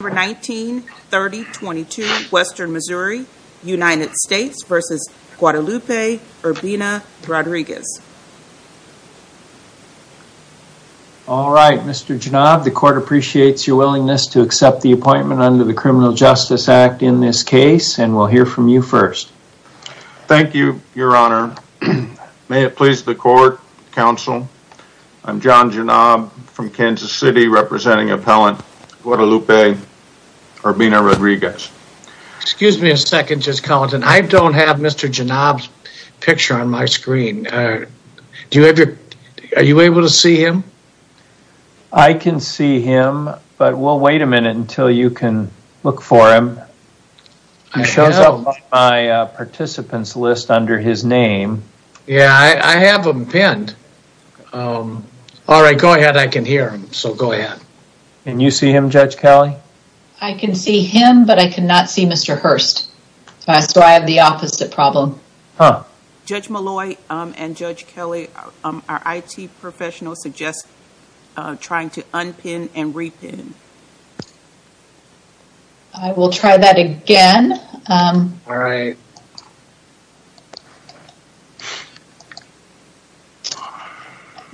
All right, Mr. Genob, the court appreciates your willingness to accept the appointment under the Criminal Justice Act in this case, and we'll hear from you first. Thank you, Your Honor. May it please the court, counsel, I'm John Genob from Kansas City representing appellant Guadalupe Urbina-Rodriguez. Excuse me a second, just counting. I don't have Mr. Genob's picture on my screen. Do you ever, are you able to see him? I can see him, but we'll wait a minute until you can look for him. He shows up on my participants list under his name. Yeah, I have him pinned. All right, go ahead. I can hear him, so go ahead. Can you see him, Judge Kelly? I can see him, but I cannot see Mr. Hurst, so I have the opposite problem. Judge Malloy and Judge Kelly, our IT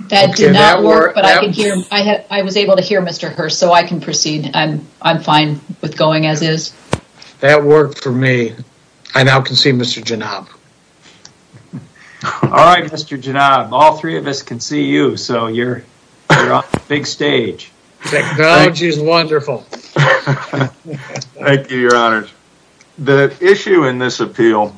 That did not work, but I was able to hear Mr. Hurst, so I can proceed. I'm fine with going as is. That worked for me. I now can see Mr. Genob. All right, Mr. Genob, all three of us can see you, so you're on the big stage. Technology is wonderful. Thank you, Your Honors. The issue in this appeal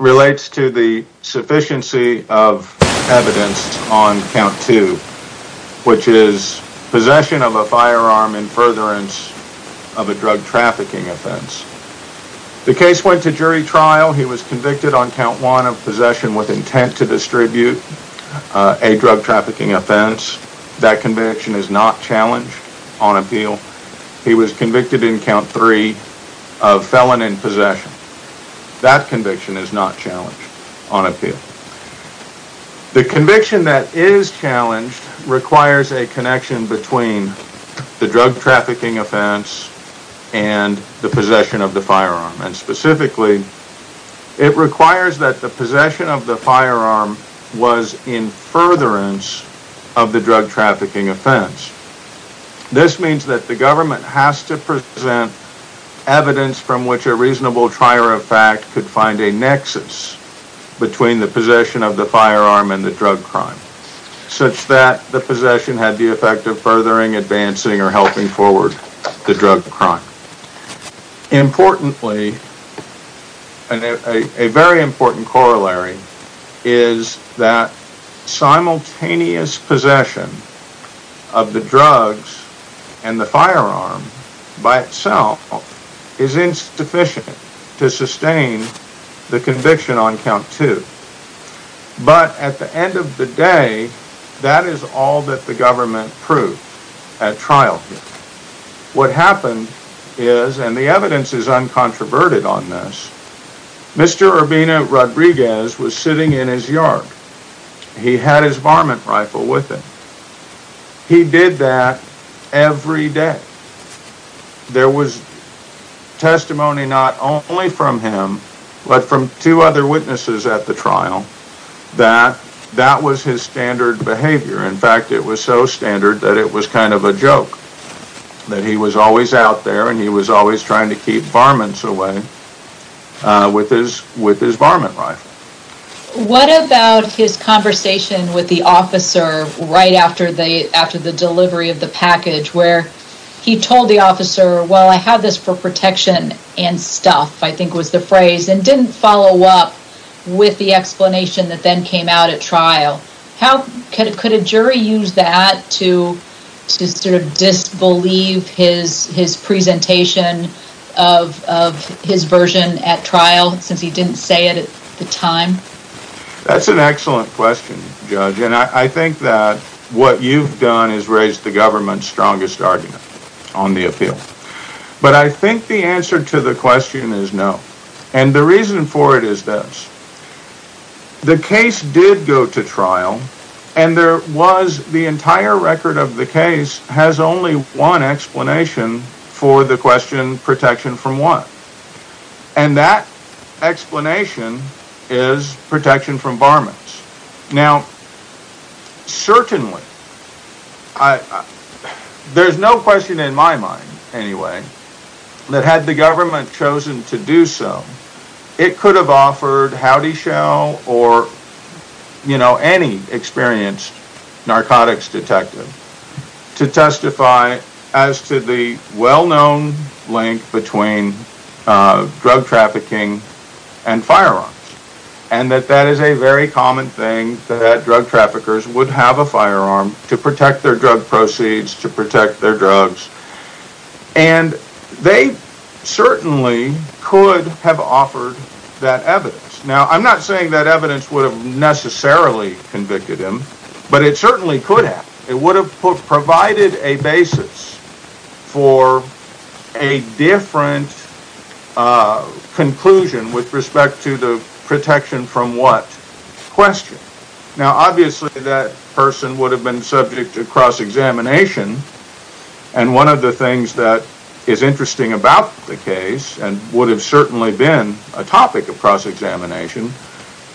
relates to the sufficiency of evidence on count two, which is possession of a firearm in furtherance of a drug trafficking offense. The case went to jury trial. He was convicted on count one of possession with intent to distribute a drug trafficking offense. That conviction is not challenged on appeal. He was convicted in count three of felon in possession. That conviction is not challenged on appeal. The conviction that is challenged requires a connection between the drug trafficking offense and the possession of the firearm, and specifically, it requires that the possession of the firearm was in furtherance of the drug trafficking offense. This means that the government has to present evidence from which a reasonable trier of fact could find a nexus between the possession of the firearm and the drug crime, such that the possession had the effect of furthering, advancing, or helping forward the drug crime. Importantly, and a very important corollary, is that simultaneous possession of the drugs and the firearm by itself is insufficient to sustain the conviction on count two. But at the end of the day, that is all that the government proved at trial. What happened is, and the evidence is uncontroverted on this, Mr. Urbina Rodriguez was sitting in his yard. He had his varmint rifle with him. He did that every day. There was testimony not only from him, but from two other witnesses at the trial, that that was his standard behavior. In fact, it was so standard that it was kind of a joke, that he was always out there, and he was always trying to keep varmints away with his varmint rifle. What about his conversation with the officer right after the delivery of the package, where he told the officer, well, I have this for protection and stuff, I think was the phrase, and didn't follow up with the explanation that then came out at trial. Could a jury use that to sort of disbelieve his presentation of his version at trial, since he didn't say it at the time? That's an excellent question, Judge, and I think that what you've done is raised the government's strongest argument on the appeal. But I think the answer to the question is no, and the reason for it is this. The case did go to trial, and there was the entire record of the case has only one explanation for the question, protection from what? And that explanation is protection from varmints. Now, certainly, there's no question in my mind, anyway, that had the government chosen to do so, it could have offered Houdyshell or, you know, any experienced narcotics detective to testify as to the well-known link between drug trafficking and firearms, and that that is a very common thing, that drug traffickers would have a firearm to protect their drug proceeds, to protect their drugs, and they certainly could have offered that evidence. Now, I'm not saying that evidence would have necessarily convicted him, but it certainly could have. It would have provided a basis for a different conclusion with respect to the protection from what question. Now, obviously, that person would have been subject to cross-examination, and one of the things that is interesting about the case, and would have certainly been a topic of cross-examination,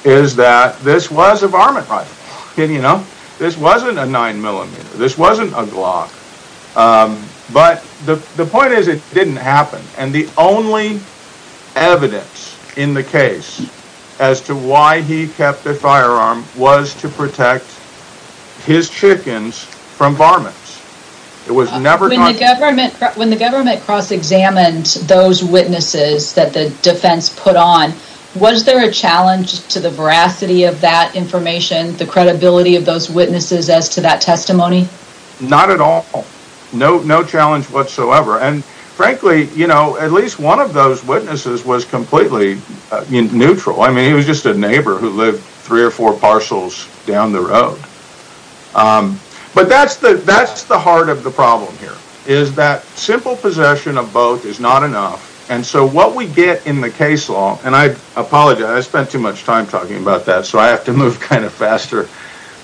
is that this was a varmint rifle, and, you know, this wasn't a 9mm, this wasn't a Glock, but the point is it didn't happen, and the only evidence in the case as to why he kept the firearm was to protect his chickens from varmints. When the government cross-examined those witnesses that the defense put on, was there a challenge to the veracity of that information, the credibility of those witnesses as to that testimony? Not at all. No challenge whatsoever, and frankly, you know, at least one of those witnesses was completely neutral. I mean, he was just a neighbor who lived three or four parcels down the road, but that's the heart of the problem here, is that simple possession of both is not enough, and so what we get in the case law, and I apologize, I spent too much time talking about that, so I have to move kind of faster,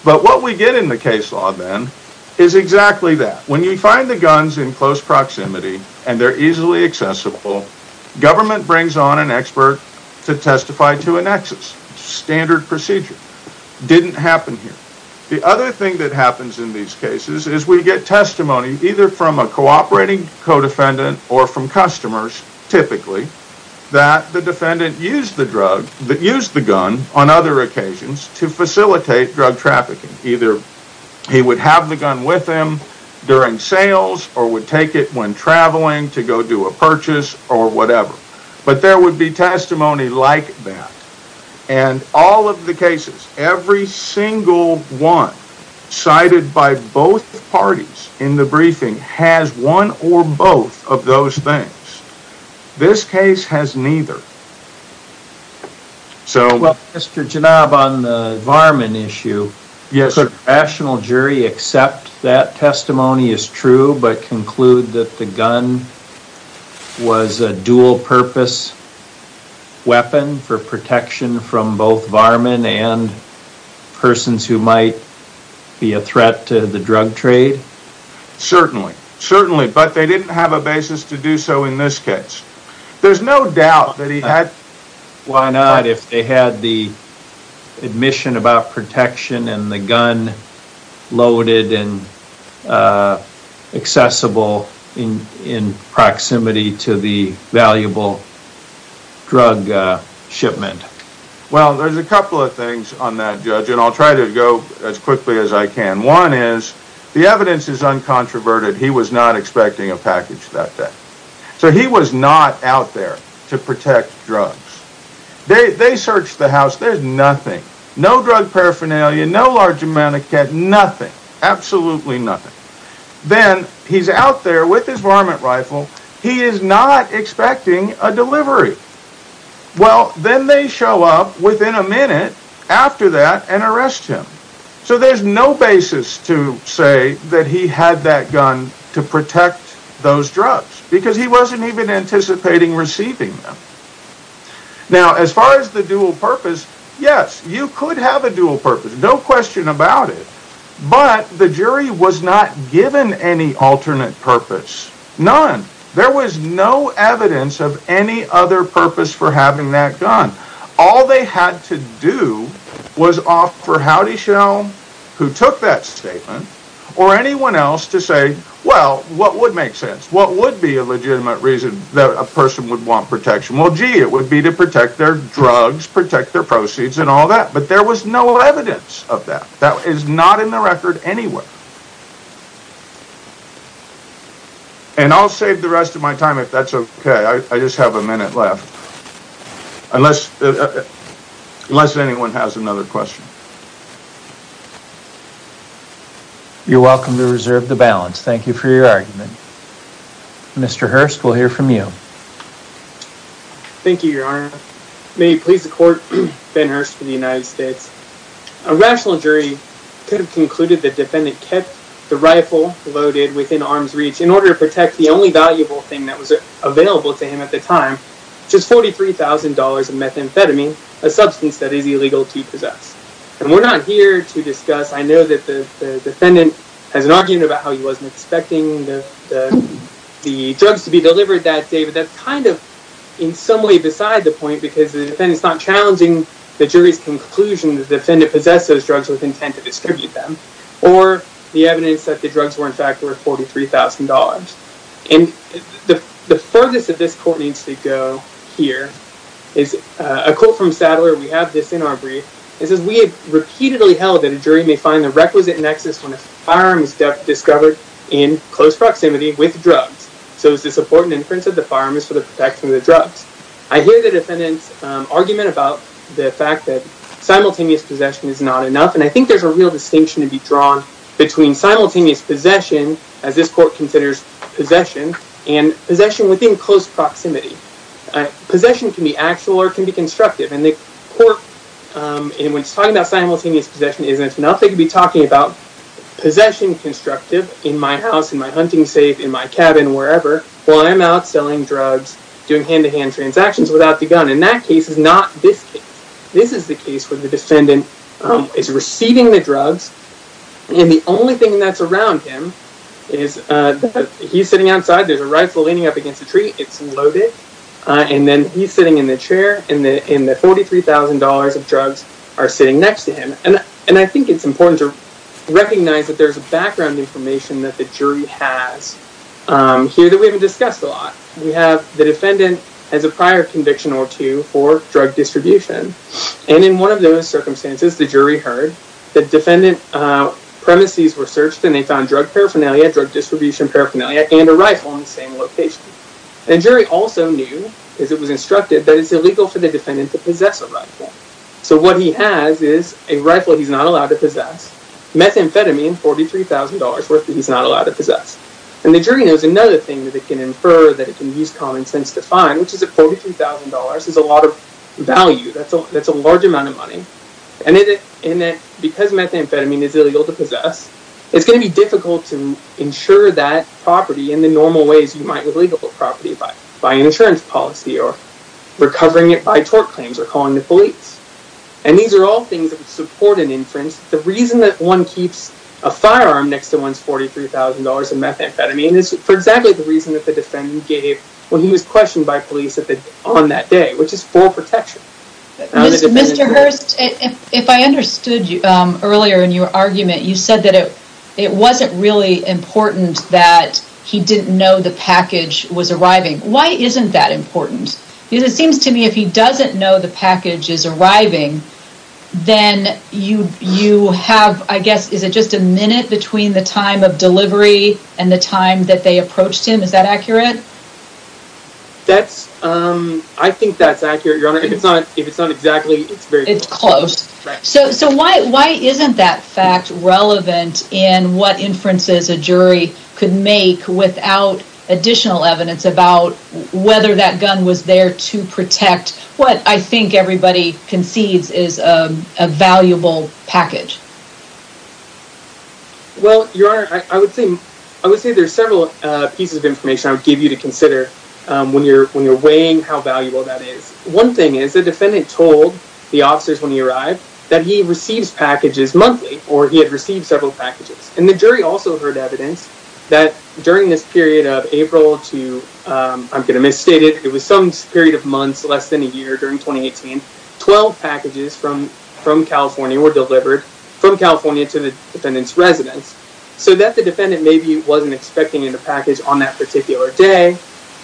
but what we get in the case law, then, is exactly that. When you find the guns in close proximity, and they're easily accessible, government brings on an expert to testify to a nexus, standard procedure. Didn't happen here. The other thing that happens in these cases is we get testimony, either from a cooperating co-defendant or from customers, typically, that the defendant used the drug, that used the gun on other occasions, to facilitate drug trafficking. Either he would have the gun with him during sales, or would take it when traveling to go do a purchase, or whatever, but there would be testimony like that, and all of the cases, every single one cited by both parties in the briefing has one or both of those things. This case has neither. So, well, Mr. Genob, on the varmint issue, yes, a rational jury accept that testimony is true, but conclude that the gun was a dual purpose weapon for protection from both varmint and persons who might be a threat to the drug trade? Certainly, certainly, but they didn't have a basis to do so in this case. There's no doubt that he had... Why not, if they had the admission about protection and the gun loaded and accessible in proximity to the valuable drug shipment? Well, there's a couple of things on that, Judge, and I'll try to go as quickly as I can. One is the evidence is uncontroverted. He was not expecting a package that day. So he was not out there to protect drugs. They searched the house. There's nothing, no drug paraphernalia, no large amount of cash, nothing, absolutely nothing. Then he's out there with his varmint rifle. He is not expecting a delivery. Well, then they show up within a minute after that and arrest him. So there's no basis to say that he had that gun to protect those drugs, because he wasn't even anticipating receiving them. Now, as far as the dual purpose, yes, you could have a dual purpose, no question about it, but the jury was not given any alternate purpose, none. There was no evidence of any other purpose for having that gun. All they had to do was offer Houdyshell, who took that statement, or anyone else to say, well, what would make sense? What would be a legitimate reason that a person would want protection? Well, gee, it would be to protect their drugs, protect their proceeds and all that, but there was no evidence of that. That is not in the record anywhere. And I'll save the rest of my time if that's okay. I just have a another question. You're welcome to reserve the balance. Thank you for your argument. Mr. Hurst, we'll hear from you. Thank you, your honor. May it please the court, Ben Hurst for the United States. A rational jury could have concluded the defendant kept the rifle loaded within arm's reach in order to protect the only valuable thing that was available to him at the And we're not here to discuss, I know that the defendant has an argument about how he wasn't expecting the drugs to be delivered that day, but that's kind of in some way beside the point because the defendant is not challenging the jury's conclusion that the defendant possessed those drugs with intent to distribute them or the evidence that the drugs were in fact worth $43,000. And the furthest that this court needs to go here is a quote from Sadler. We have this is we have repeatedly held that a jury may find the requisite nexus when a firearm is discovered in close proximity with drugs. So is the support and inference of the firearm is for the protection of the drugs. I hear the defendant's argument about the fact that simultaneous possession is not enough. And I think there's a real distinction to be drawn between simultaneous possession, as this court considers possession and possession within close proximity. Possession can be actual or it can be constructive. And the court, and when it's talking about simultaneous possession, isn't enough. They could be talking about possession constructive in my house, in my hunting safe, in my cabin, wherever, while I'm out selling drugs, doing hand-to-hand transactions without the gun. And that case is not this case. This is the case where the defendant is receiving the drugs. And the only thing that's around him is he's sitting outside. There's a rifle leaning up against the tree. It's loaded. And then he's sitting in the chair and the $43,000 of drugs are sitting next to him. And I think it's important to recognize that there's a background information that the jury has here that we haven't discussed a lot. We have the defendant has a prior conviction or two for drug distribution. And in one of those circumstances, the jury heard that defendant premises were searched and they found drug paraphernalia, drug distribution paraphernalia, and a rifle in the same location. The jury also knew, as it was instructed, that it's illegal for the defendant to possess a rifle. So what he has is a rifle he's not allowed to possess, methamphetamine, $43,000 worth that he's not allowed to possess. And the jury knows another thing that they can infer that it can use common sense to find, which is that $43,000 is a lot of value. That's a large amount of money. And that because methamphetamine is illegal to possess, it's going to be difficult to insure that property in the normal ways you might with legal property by an insurance policy or recovering it by tort claims or calling the police. And these are all things that would support an inference. The reason that one keeps a firearm next to one's $43,000 of methamphetamine is for exactly the reason that the defendant gave when he was questioned by police on that day, which is for protection. Mr. Hurst, if I understood earlier in your argument, you said that it wasn't really important that he didn't know the package was arriving. Why isn't that important? Because it seems to me if he doesn't know the package is arriving, then you have, I guess, is it just a minute between the time of delivery and the time that they approached him? Is that accurate, Your Honor? If it's not exactly, it's very close. It's close. So why isn't that fact relevant in what inferences a jury could make without additional evidence about whether that gun was there to protect what I think everybody concedes is a valuable package? Well, Your Honor, I would say there's several pieces of information I would give you to consider when you're weighing how valuable that is. One thing is the defendant told the officers when he arrived that he receives packages monthly, or he had received several packages. And the jury also heard evidence that during this period of April to, I'm going to misstate it, it was some period of months less than a year during 2018, 12 packages from California were delivered from California to the defendant's residence. So that the defendant maybe wasn't expecting a package on that particular day,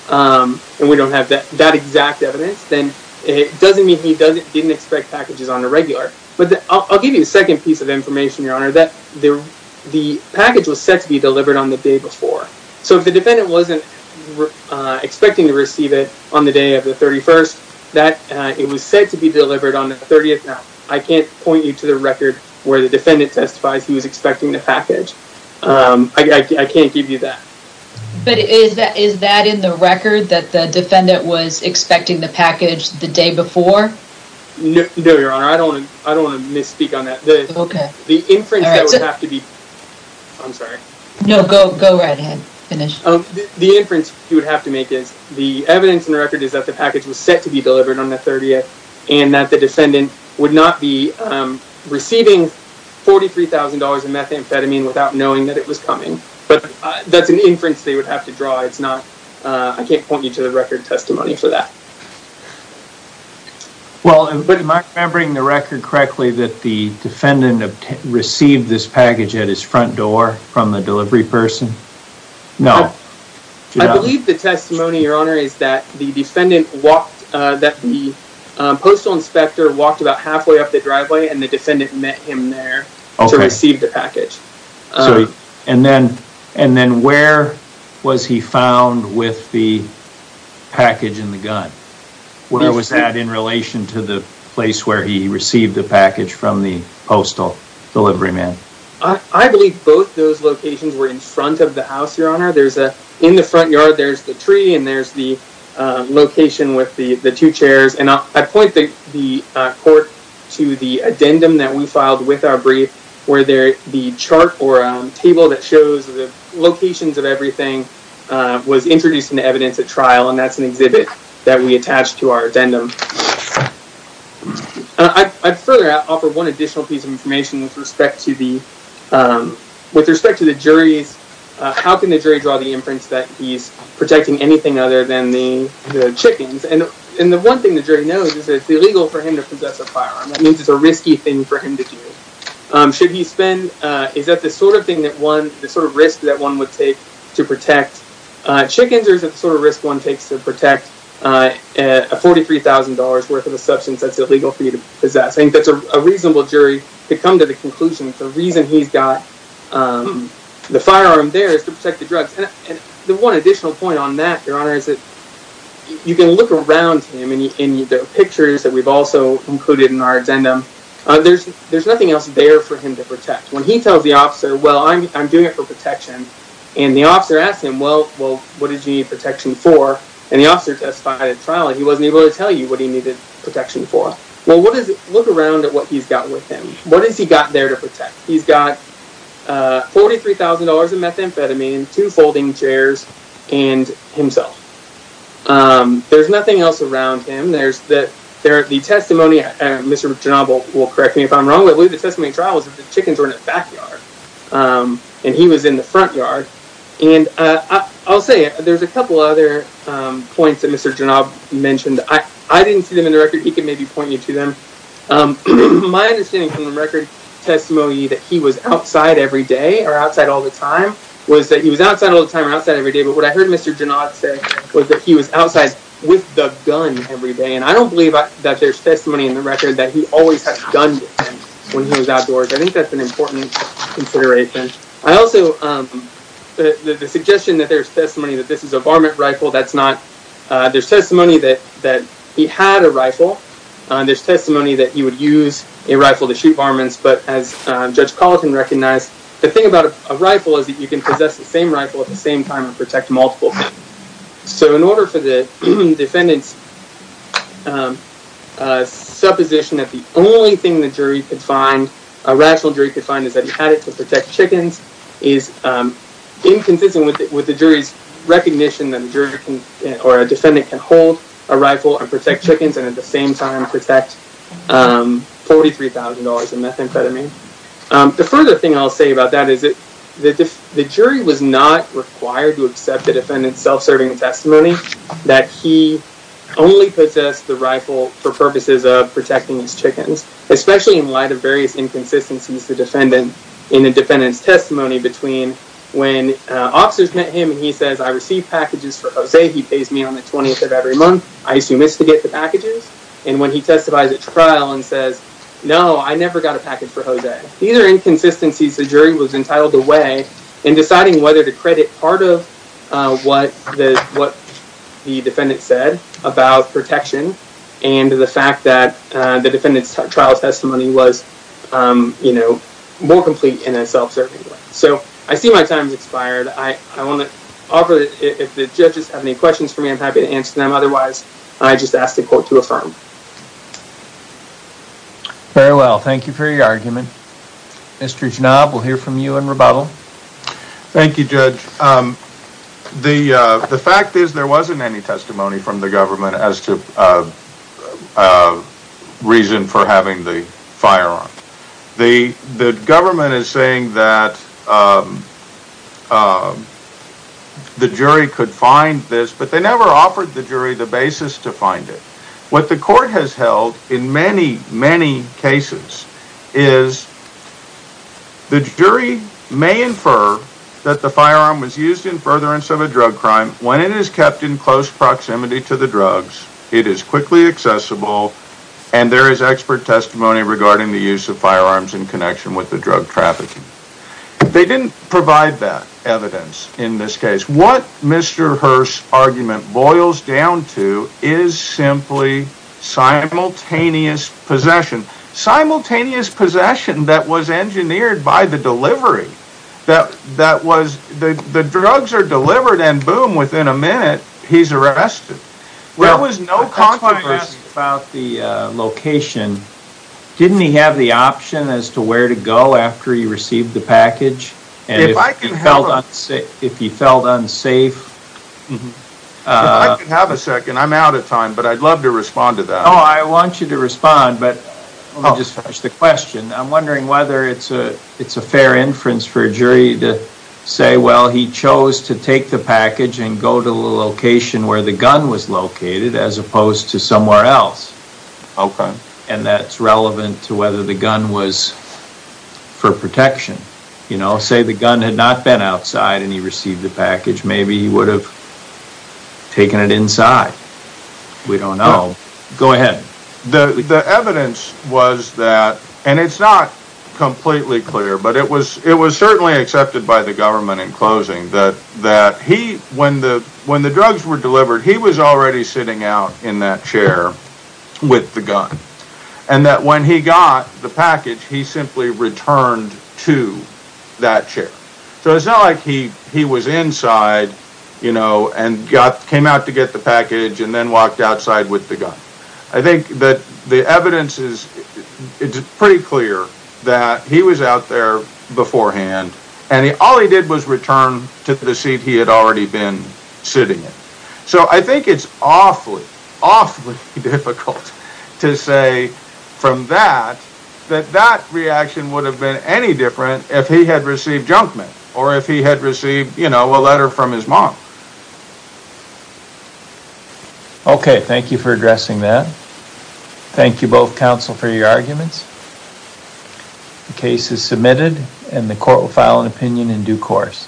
and we don't have that exact evidence, then it doesn't mean he didn't expect packages on a regular. But I'll give you the second piece of information, Your Honor, that the package was set to be delivered on the day before. So if the defendant wasn't expecting to receive it on the day of the 31st, that it was set to be delivered on the 30th. Now, I can't point you to the record where the defendant testifies he was expecting the package. I can't give you that. But is that in the record that the defendant was expecting the package the day before? No, Your Honor, I don't want to misspeak on that. Okay. The inference that would have to be, I'm sorry. No, go right ahead, finish. The inference you would have to make is the evidence in the record is that the package was set to be delivered on the 30th, and that the knowing that it was coming. But that's an inference they would have to draw. It's not, I can't point you to the record testimony for that. Well, am I remembering the record correctly that the defendant received this package at his front door from the delivery person? No. I believe the testimony, Your Honor, is that the defendant walked, that the postal inspector walked about halfway up the driveway, and the defendant met him there to receive the package. And then where was he found with the package and the gun? Where was that in relation to the place where he received the package from the postal deliveryman? I believe both those locations were in front of the house, Your Honor. In the front yard, there's the tree, and there's the location with the two chairs. And I point the court to the with our brief where the chart or table that shows the locations of everything was introduced in the evidence at trial, and that's an exhibit that we attached to our addendum. I'd further offer one additional piece of information with respect to the, with respect to the jury's, how can the jury draw the inference that he's protecting anything other than the chickens? And the one thing the jury knows is that it's illegal for him to possess a firearm. That means it's a risky thing for him to do. Should he spend, is that the sort of thing that one, the sort of risk that one would take to protect chickens, or is it the sort of risk one takes to protect a $43,000 worth of a substance that's illegal for you to possess? I think that's a reasonable jury to come to the conclusion the reason he's got the firearm there is to protect the drugs. And the one additional point on that, Your Honor, is that you can look around him, and there are pictures that we've also included in our addendum. There's nothing else there for him to protect. When he tells the officer, well, I'm doing it for protection, and the officer asks him, well, what did you need protection for? And the officer testified at trial that he wasn't able to tell you what he needed protection for. Well, what is, look around at what he's got with him. What has he got there to protect? He's got $43,000 of methamphetamine, two folding chairs, and himself. There's nothing else around him. There's the testimony, Mr. Jernob will correct me if I'm wrong, but the testimony at trial was that the chickens were in the backyard, and he was in the front yard. And I'll say, there's a couple other points that Mr. Jernob mentioned. I didn't see them in the record. He can maybe point you to them. My understanding from the record testimony that he was outside every day, or outside all the time, was that he was outside all the time or outside every day. But what I heard Mr. Jernob say was that he was outside with the gun every day. And I don't believe that there's testimony in the record that he always had a gun with him when he was outdoors. I think that's an important consideration. I also, the suggestion that there's testimony that this is a varmint rifle, that's not. There's testimony that he had a rifle. There's testimony that he would use a rifle to recognize. The thing about a rifle is that you can possess the same rifle at the same time and protect multiple things. So in order for the defendant's supposition that the only thing the jury could find, a rational jury could find, is that he had it to protect chickens, is inconsistent with the jury's recognition that a jury or a defendant can hold a rifle and protect chickens and at the same time protect $43,000 in methamphetamine. The further thing I'll say about that is that the jury was not required to accept the defendant's self-serving testimony that he only possessed the rifle for purposes of protecting his chickens, especially in light of various inconsistencies in the defendant's testimony between when officers met him and he says, I receive packages for Jose, he pays me on the 20th of every month, I assume it's to get the packages. And when he testifies at trial and says, no, I never got a package for Jose. These are inconsistencies the jury was entitled to weigh in deciding whether to credit part of what the defendant said about protection and the fact that the defendant's trial testimony was more complete in a self-serving way. So I see my time has expired. I want to offer, if the judges have any questions for me, I'm happy to answer them. I just ask the court to affirm. Very well. Thank you for your argument. Mr. Jnab, we'll hear from you in rebuttal. Thank you, Judge. The fact is there wasn't any testimony from the government as to reason for having the firearm. The government is saying that the jury could find this, but they never offered the jury the basis to find it. What the court has held in many, many cases is the jury may infer that the firearm was used in furtherance of a drug crime when it is kept in close proximity to the drugs, it is quickly accessible, and there is expert testimony regarding the use of firearms in connection with the drug trafficking. They didn't provide that evidence in this case. What Mr. Hearst's argument boils down to is simply simultaneous possession. Simultaneous possession that was engineered by the delivery. The drugs are delivered and boom, within a minute, he's arrested. There was no controversy. About the location, didn't he have the option as to where to go after he received the package? If he felt unsafe? I could have a second. I'm out of time, but I'd love to respond to that. Oh, I want you to respond, but let me just finish the question. I'm wondering whether it's a fair inference for a jury to say, well, he chose to take the package and go to the location where the gun was located as opposed to somewhere else, and that's relevant to whether the gun was for protection. Say the gun had not been outside and he received the package, maybe he would have taken it inside. We don't know. Go ahead. The evidence was that, and it's not completely clear, but it was certainly accepted by the government in closing, that when the drugs were sitting out in that chair with the gun, and that when he got the package, he simply returned to that chair. So it's not like he was inside and came out to get the package and then walked outside with the gun. I think that the evidence is pretty clear that he was out there beforehand and all he did was return to the seat he had already been sitting in. So I think it's awfully, awfully difficult to say from that, that that reaction would have been any different if he had received junk mail or if he had received, you know, a letter from his mom. Okay, thank you for addressing that. Thank you both, counsel, for your arguments. The case is submitted and the court will file an opinion in due course.